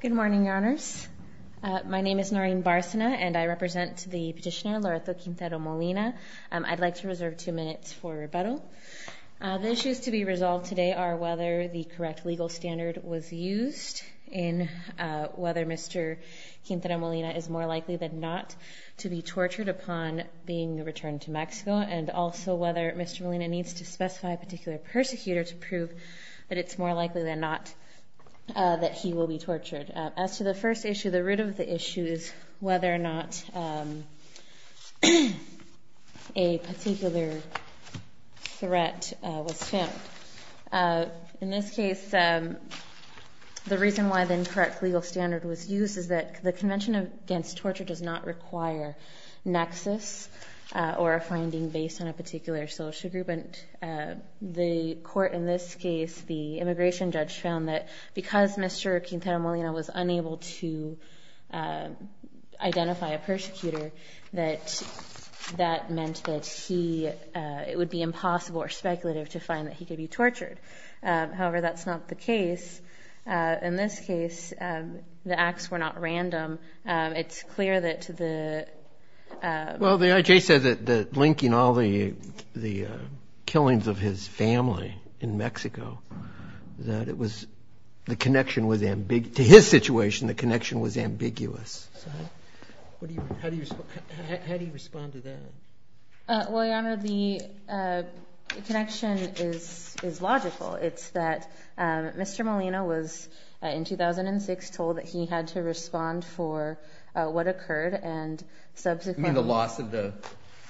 Good morning, Your Honors. My name is Noreen Barsana, and I represent the petitioner Loretto Quintero-Molina. I'd like to reserve two minutes for rebuttal. The issues to be resolved today are whether the correct legal standard was used in whether Mr. Quintero-Molina is more likely than not to be tortured upon being returned to Mexico, and also whether Mr. Molina needs to specify a particular persecutor to prove that it's more likely than not that he will be tortured. As to the first issue, the root of the issue is whether or not a particular threat was found. In this case, the reason why the incorrect legal standard was used is that the Convention Against Torture does not require nexus or a finding based on a particular social group. And the court in this case, the immigration judge, found that because Mr. Quintero-Molina was unable to identify a persecutor, that that meant that he, it would be impossible or speculative to find that he could be tortured. However, that's not the case. In this case, the acts were not random. It's clear that the... killings of his family in Mexico, that it was, the connection was ambig... to his situation, the connection was ambiguous. How do you respond to that? Well, Your Honor, the connection is logical. It's that Mr. Molina was, in 2006, told that he had to respond for what occurred, and subsequently... You mean the loss of the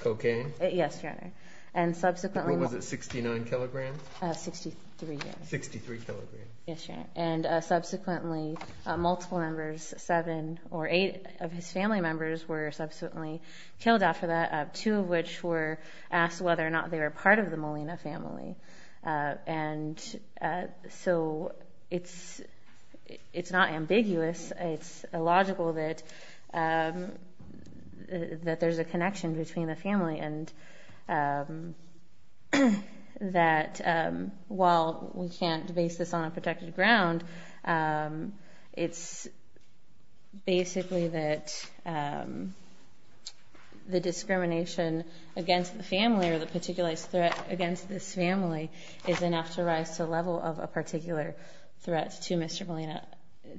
cocaine? Yes, Your Honor. And subsequently... What was it, 69 kilograms? 63. 63 kilograms. Yes, Your Honor. And subsequently, multiple members, seven or eight of his family members were subsequently killed after that, two of which were asked whether or not they were part of the Molina family. And so it's not ambiguous. It's logical that there's a connection between the family and that while we can't base this on a protected ground, it's basically that the discrimination against the family or the particular threat against this family is enough to rise to the level of a particular threat to Mr. Molina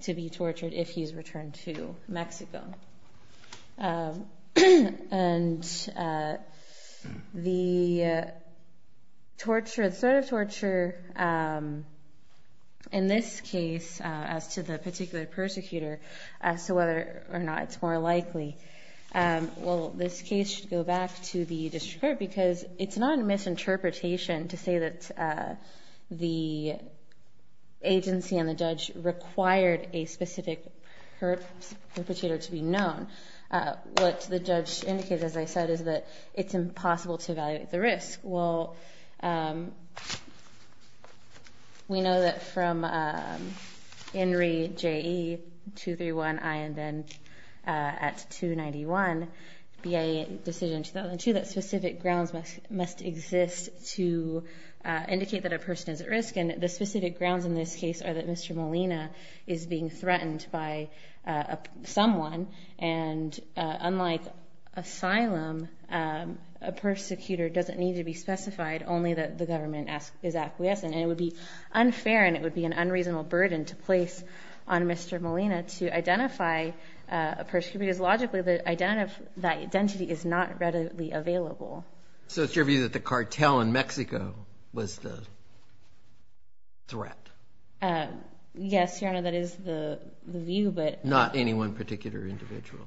to be tortured if he's returned to Mexico. And the torture, the sort of torture, in this case, as to the particular persecutor, as to whether or not it's more likely, well, this case should go back to the district court because it's not a misinterpretation to say that the agency and the judge required a specific perpetrator to be known. What the judge indicates, as I said, is that it's impossible to evaluate the risk. Well, we know that from INRI J.E. 231 and then at 291, BIA decision 2002, that specific grounds must exist to indicate that a person is at risk. And the specific grounds in this case are that Mr. Molina is being threatened by someone. And unlike asylum, a persecutor doesn't need to be specified, only that the government is acquiescent. And it would be unfair and it would be an unreasonable burden to place on Mr. Molina to identify a persecutor because logically that identity is not readily available. So it's your view that the cartel in Mexico was the threat? Yes, Your Honor, that is the view, but... Not any one particular individual?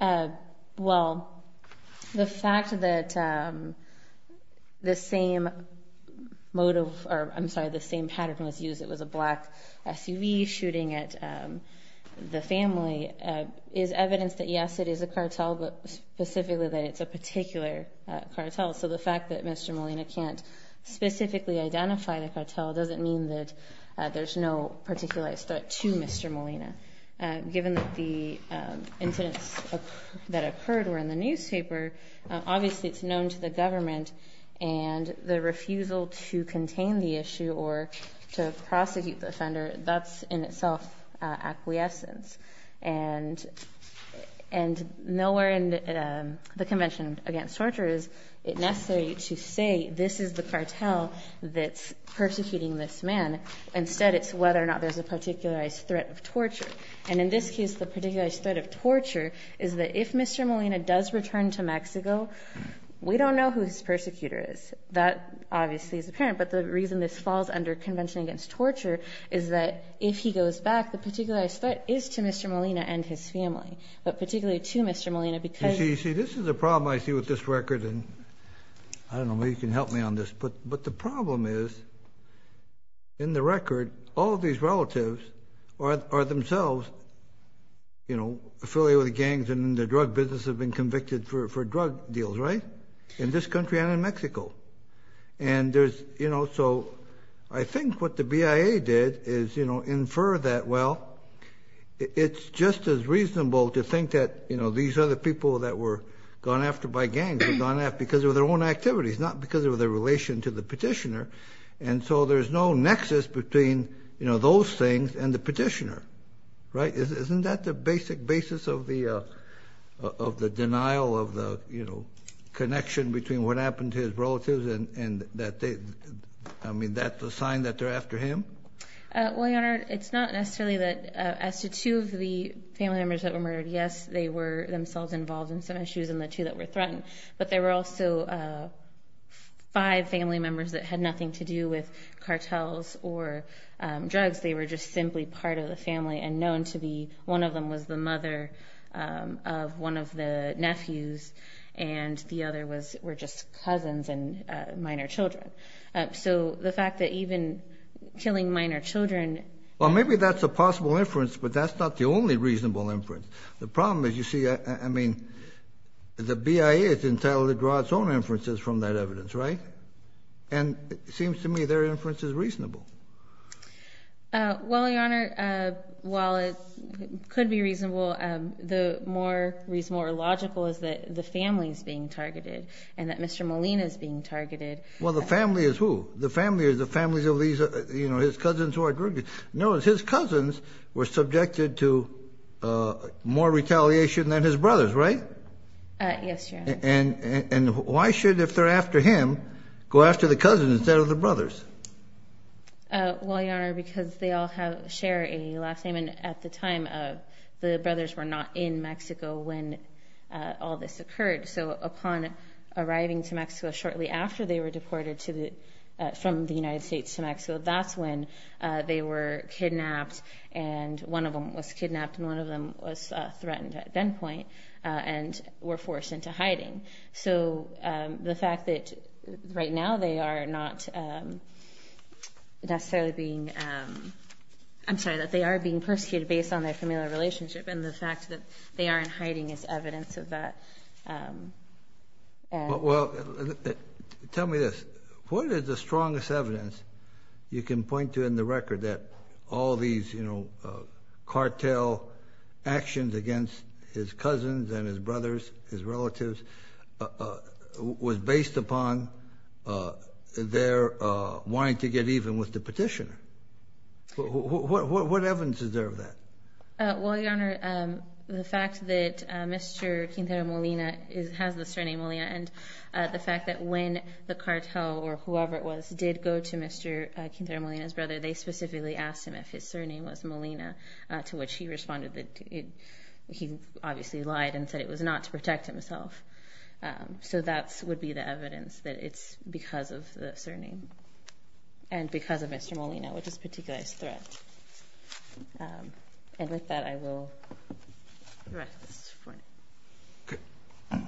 Well, the fact that the same motive, or I'm sorry, the same pattern was used. It was a black SUV shooting at the family is evidence that yes, it is a cartel, but specifically that it's a particular cartel. So the fact that Mr. Molina can't specifically identify the cartel doesn't mean that there's no particular threat to Mr. Molina. Given that the incidents that occurred were in the newspaper, obviously it's known to the government and the refusal to contain the issue or to prosecute the offender, that's in itself acquiescence. And nowhere in the Convention Against Torture is it necessary to say this is the cartel that's persecuting this man. Instead, it's whether or not there's a particular threat of torture. And in this case, the particular threat of torture is that if Mr. Molina does return to Mexico, we don't know who his persecutor is. That obviously is apparent, but the reason this falls under Convention Against Torture is that if he goes back, the particular threat is to Mr. Molina and his family, but particularly to Mr. Molina because- You see, this is a problem I see with this record and I don't know if you can help me on this, but the problem is in the record, all of these relatives are themselves affiliated with gangs and in the drug business have been convicted for drug deals, right? In this country and in Mexico. And so I think what the BIA did is infer that, well, it's just as reasonable to think that these other people that were gone after by gangs were gone after because of their own activities, not because of their relation to the petitioner. And so there's no nexus between those things and the petitioner, right? Isn't that the basic basis of the denial of the connection between what and that they, I mean, that's a sign that they're after him? Well, Your Honor, it's not necessarily that as to two of the family members that were murdered, yes, they were themselves involved in some issues and the two that were threatened, but there were also five family members that had nothing to do with cartels or drugs. They were just simply part of the family and known to be, one of them was the mother of one of the minor children. So the fact that even killing minor children- Well, maybe that's a possible inference, but that's not the only reasonable inference. The problem is you see, I mean, the BIA is entitled to draw its own inferences from that evidence, right? And it seems to me their inference is reasonable. Well, Your Honor, while it could be reasonable, the more reasonable or logical is that the family's being targeted and that Mr. Molina is being targeted. Well, the family is who? The family is the families of his cousins who are drugged. No, it's his cousins were subjected to more retaliation than his brothers, right? Yes, Your Honor. And why should, if they're after him, go after the cousins instead of the brothers? Well, Your Honor, because they all share a last name and at the time of the brothers were not in upon arriving to Mexico shortly after they were deported from the United States to Mexico, that's when they were kidnapped and one of them was kidnapped and one of them was threatened at that point and were forced into hiding. So the fact that right now they are not necessarily being, I'm sorry, that they are being persecuted based on their familial relationship and the fact that they aren't hiding is evidence of that. Well, tell me this, what is the strongest evidence you can point to in the record that all these, you know, cartel actions against his cousins and his brothers, his relatives, was based upon their wanting to get even with the petitioner? What evidence is there of that? Well, Your Honor, the fact that Mr. Quintero Molina has the surname Molina and the fact that when the cartel or whoever it was did go to Mr. Quintero Molina's brother, they specifically asked him if his surname was Molina, to which he responded that he obviously lied and said it was not to protect himself. So that would be the evidence that it's because of the surname and because of Mr. Molina, which is a particular threat. And with that, I will direct this to the Court.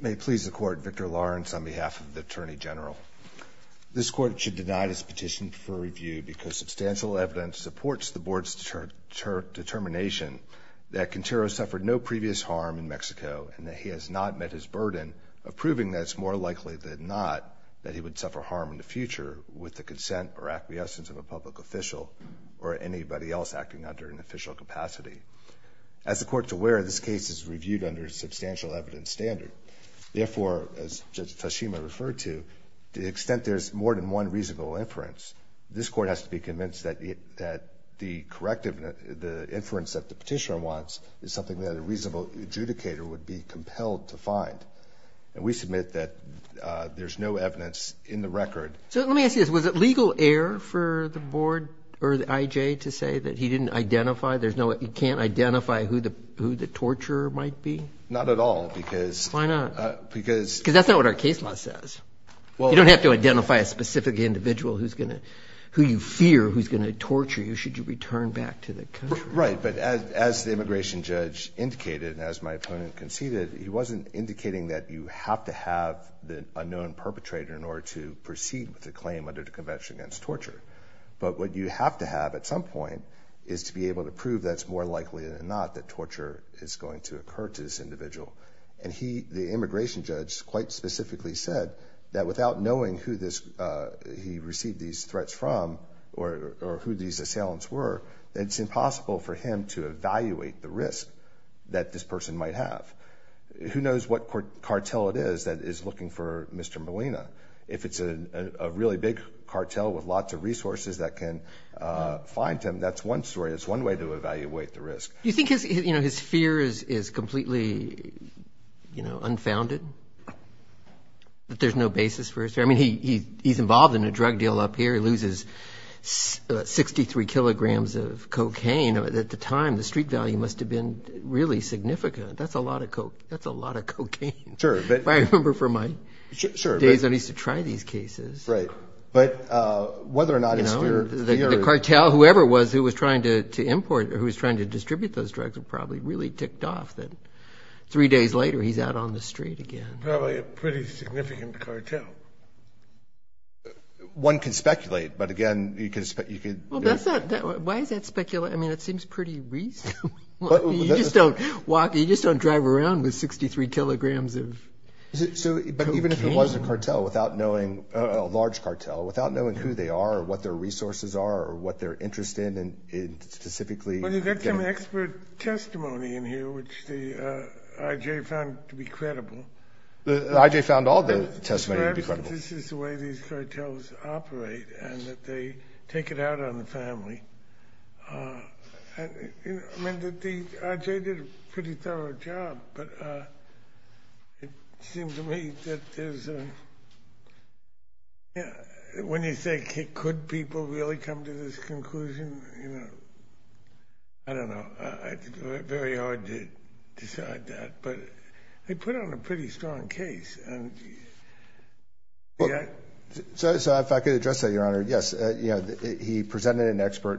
May it please the Court, Victor Lawrence on behalf of the Attorney General. This Court should deny this petition for review because substantial evidence supports the Board's determination that Quintero suffered no previous harm in Mexico and that he has not met his burden of proving that it's more likely than not that he would suffer harm in the future with the consent or acquiescence of a public official or anybody else acting under an official capacity. As the Court's aware, this case is reviewed under a substantial evidence standard. Therefore, as Judge Tashima referred to, to the extent there's more than one reasonable inference, this Court has to be convinced that the corrective, the inference that the petitioner wants is something that a reasonable adjudicator would be compelled to find. And we submit that there's no evidence in the record. So let me ask you this. Was it legal error for the Board or the IJ to say that he didn't identify, there's no, he can't identify who the torturer might be? Not at all because... Why not? Because... Because that's not what our case law says. Well... If you identify a specific individual who you fear who's going to torture you, should you return back to the country? Right. But as the immigration judge indicated, and as my opponent conceded, he wasn't indicating that you have to have an unknown perpetrator in order to proceed with the claim under the Convention Against Torture. But what you have to have at some point is to be able to prove that it's more likely than not that torture is going to occur to this individual. And he, the immigration judge, quite specifically said that without knowing who this, he received these threats from or who these assailants were, that it's impossible for him to evaluate the risk that this person might have. Who knows what cartel it is that is looking for Mr. Molina. If it's a really big cartel with lots of resources that can find him, that's one story. It's one way to evaluate the risk. Do you think his fear is completely, you know, unfounded? That there's no basis for his fear? I mean, he's involved in a drug deal up here. He loses 63 kilograms of cocaine. At the time, the street value must have been really significant. That's a lot of cocaine. That's a lot of cocaine. If I remember from my days, I used to try these cases. Right. But whether or not his fear... The cartel, whoever it was, who was trying to import, who was trying to distribute those drugs were probably really ticked off that three days later, he's out on the street again. Probably a pretty significant cartel. One can speculate, but again, you could... Why is that speculative? I mean, it seems pretty reasonable. You just don't walk, you just don't drive around with 63 kilograms of... But even if it was a cartel without knowing, a large cartel, without knowing who they are or what their resources are or what they're interested in specifically... Well, you've got some expert testimony in here, which the IJ found to be credible. The IJ found all the testimony to be credible. Perhaps this is the way these cartels operate and that they take it out on the family. I mean, the IJ did a pretty thorough job, but it seemed to me that there's a... Could people really come to this conclusion? I don't know. Very hard to decide that, but they put on a pretty strong case. So if I could address that, Your Honor. Yes, he presented an expert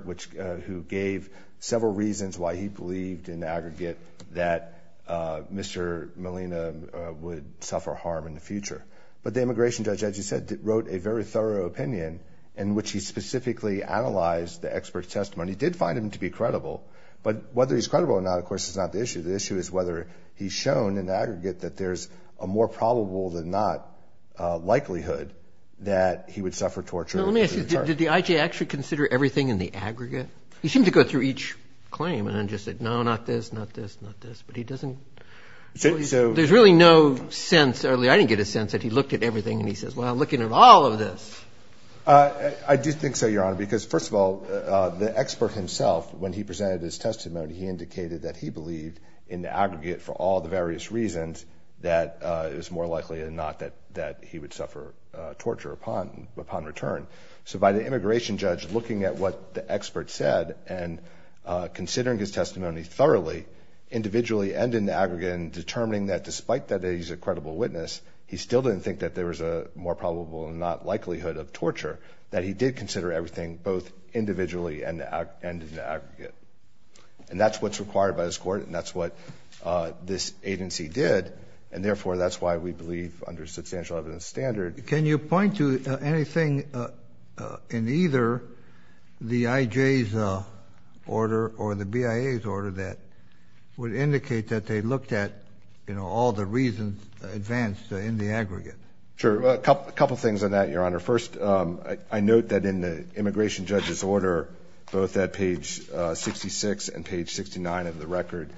who gave several reasons why he believed in the aggregate that Mr. Molina would suffer harm in the future. But the immigration judge, as you said, wrote a very thorough opinion in which he specifically analyzed the expert's testimony. He did find him to be credible. But whether he's credible or not, of course, is not the issue. The issue is whether he's shown in the aggregate that there's a more probable than not likelihood that he would suffer torture. Let me ask you, did the IJ actually consider everything in the aggregate? He seemed to go through each claim and then just said, no, not this, not this, not this. But he doesn't... There's really no sense... I didn't get a sense that he looked at everything and he says, looking at all of this. I do think so, Your Honor. Because first of all, the expert himself, when he presented his testimony, he indicated that he believed in the aggregate for all the various reasons that it was more likely than not that he would suffer torture upon return. So by the immigration judge looking at what the expert said and considering his testimony thoroughly individually and in the aggregate and determining that despite that he's a credible witness, he still didn't think that there was a more probable than not likelihood of torture, that he did consider everything both individually and in the aggregate. And that's what's required by this court and that's what this agency did. And therefore, that's why we believe under substantial evidence standard... Can you point to anything in either the IJ's order or the BIA's order would indicate that they looked at all the reasons advanced in the aggregate? Sure. A couple of things on that, Your Honor. First, I note that in the immigration judge's order, both at page 66 and page 69 of the record...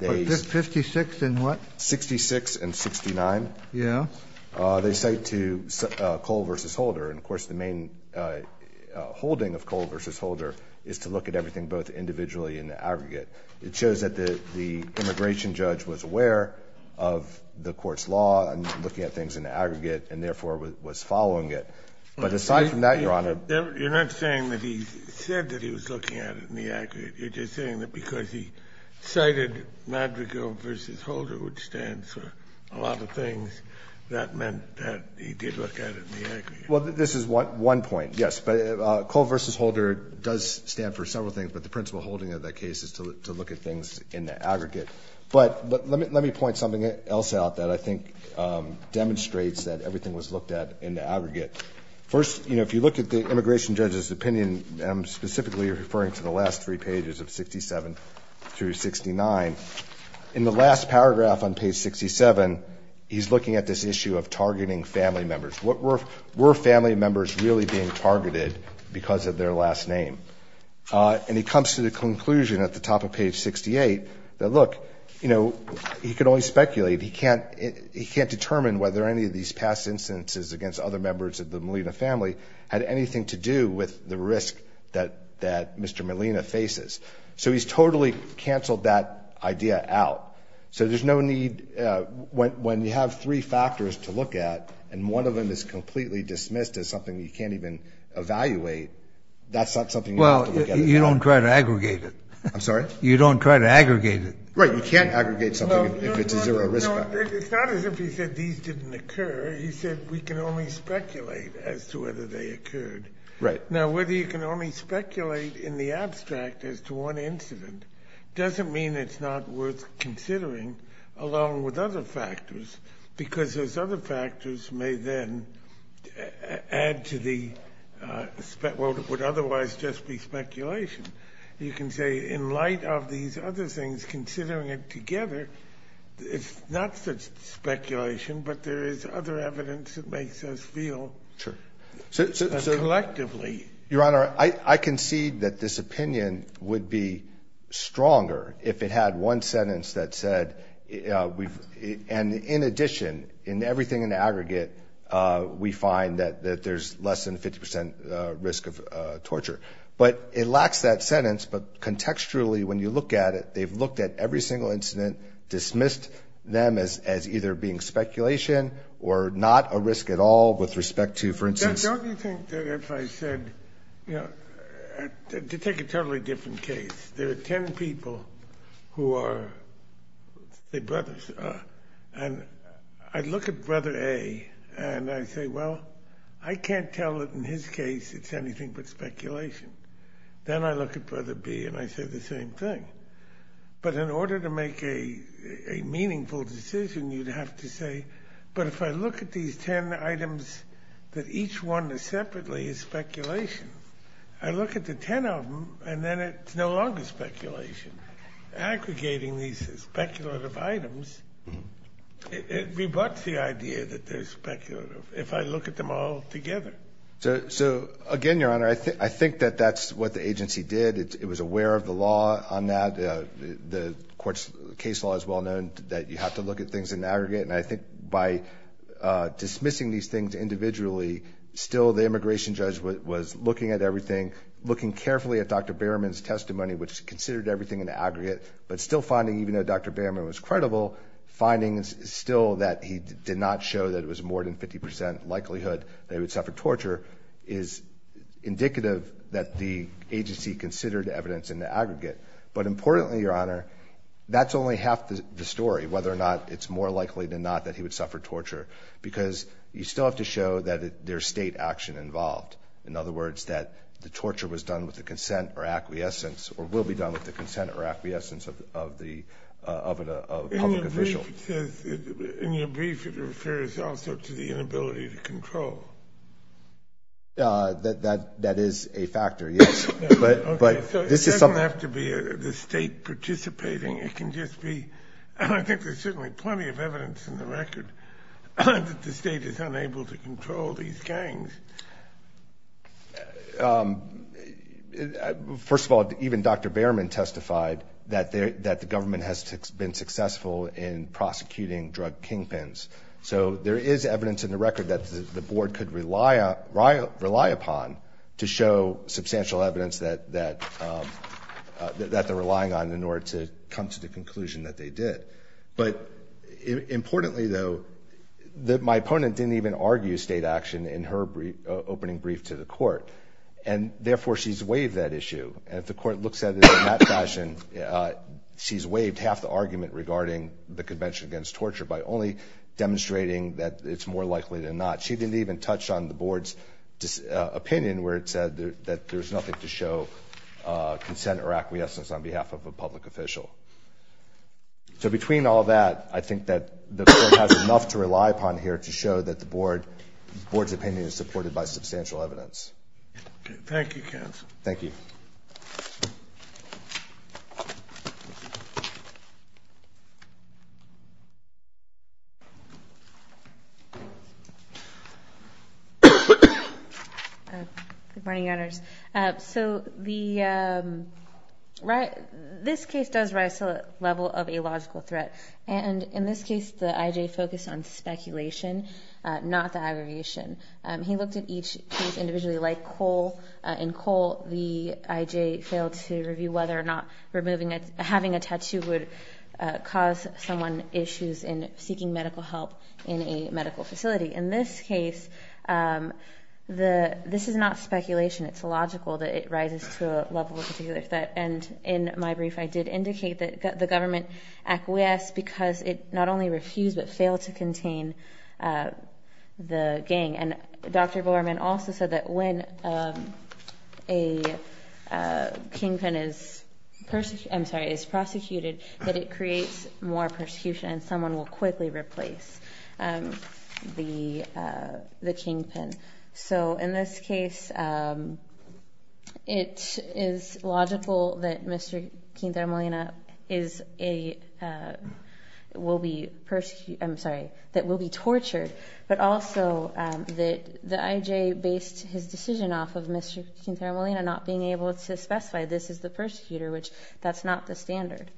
56 and what? 66 and 69. Yeah. They cite to Cole versus Holder. And of course, the main holding of Cole versus Holder is to look at everything both individually and the aggregate. It shows that the immigration judge was aware of the court's law and looking at things in the aggregate and therefore was following it. But aside from that, Your Honor... You're not saying that he said that he was looking at it in the aggregate. You're just saying that because he cited Madrigal versus Holder, which stands for a lot of things, that meant that he did look at it in the aggregate. Well, this is one point, yes. But Cole versus Holder does stand for several things, but the principal holding of that case is to look at things in the aggregate. But let me point something else out that I think demonstrates that everything was looked at in the aggregate. First, if you look at the immigration judge's opinion, I'm specifically referring to the last three pages of 67 through 69. In the last paragraph on page 67, he's looking at this issue of targeting family members. What were family members really being targeted because of their last name? And he comes to the conclusion at the top of page 68 that, look, he could only speculate. He can't determine whether any of these past instances against other members of the Molina family had anything to do with the risk that Mr. Molina faces. So he's totally canceled that idea out. So there's no need... When you have three factors to look at, and one of them is completely dismissed as something you can't even evaluate, that's not something you have to look at. Well, you don't try to aggregate it. I'm sorry? You don't try to aggregate it. Right, you can't aggregate something if it's a zero risk factor. It's not as if he said these didn't occur. He said we can only speculate as to whether they occurred. Right. Now, whether you can only speculate in the abstract as to one incident doesn't mean it's not worth considering along with other factors, because those other factors may then add to the... Well, it would otherwise just be speculation. You can say in light of these other things, considering it together, it's not such speculation, but there is other evidence that makes us feel collectively. Your Honor, I concede that this opinion would be stronger if it had one sentence that said... In addition, in everything in the aggregate, we find that there's less than 50% risk of torture. But it lacks that sentence, but contextually, when you look at it, they've looked at every single incident, dismissed them as either being speculation or not a risk at all with respect to, for instance... Don't you think that if I said... To take a totally different case, there are 10 people who are the brothers, and I look at brother A and I say, well, I can't tell that in his case, it's anything but speculation. Then I look at brother B and I say the same thing. But in order to make a meaningful decision, you'd have to say, but if I look at these 10 items, that each one is separately is speculation. I look at the 10 of them and then it's no longer speculation. Aggregating these speculative items, it rebuts the idea that they're speculative if I look at them all together. So again, Your Honor, I think that that's what the agency did. It was aware of the law on that. The court's case law is well known that you have to look at things in aggregate. And I think by dismissing these things individually, still the immigration judge was looking at everything, looking carefully at Dr. Behrman's testimony, which considered everything in the aggregate, but still finding, even though Dr. Behrman was credible, findings still that he did not show that it was more than 50% likelihood that he would suffer torture is indicative that the agency considered evidence in the aggregate. But importantly, Your Honor, that's only half the story, whether or not it's more likely than not that he would suffer torture, because you still have to show that there's state action involved. In other words, that the torture was done with the consent or acquiescence or will be done with the consent or acquiescence of a public official. In your brief, it says, in your brief, it refers also to the inability to control. That is a factor, yes. Okay, so it doesn't have to be the state participating. It can just be, and I think there's certainly plenty of evidence in the record, that the state is unable to control these gangs. First of all, even Dr. Behrman testified that the government has been successful in prosecuting drug kingpins. So there is evidence in the record that the board could rely upon to show substantial evidence that they're relying on in order to come to the conclusion that they did. But importantly, though, my opponent didn't even argue state action in her opening brief to the court, and therefore, she's waived that issue. And if the court looks at it in that fashion, she's waived half the argument regarding the Convention Against Torture by only demonstrating that it's more likely than not. She didn't even touch on the board's opinion where it said that there's nothing to show consent or acquiescence on behalf of a public official. So between all that, I think that the court has enough to rely upon here to show that the board's opinion is supported by substantial evidence. Okay, thank you, counsel. Thank you. Good morning, Your Honors. So this case does rise to the level of a logical threat. And in this case, the I.J. focused on speculation, not the aggravation. He looked at each case individually. Like Cole, in Cole, the I.J. failed to review whether or not having a tattoo would cause someone issues in seeking medical help in a medical facility. In this case, this is not speculation. It's logical that it rises to a level of particular threat. And in my brief, I did indicate that the government acquiesced because it not only refused but failed to contain the gang. And Dr. Borman also said that when a kingpin is prosecuted, that it creates more persecution and someone will quickly replace the kingpin. So in this case, it is logical that Mr. Quintero Molina will be tortured. But also that the I.J. based his decision off of Mr. Quintero Molina not being able to specify this is the persecutor, which that's not the standard.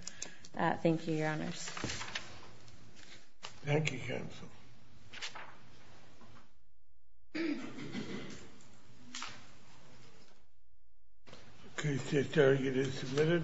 Thank you, counsel. Thank you. Okay, the target is submitted.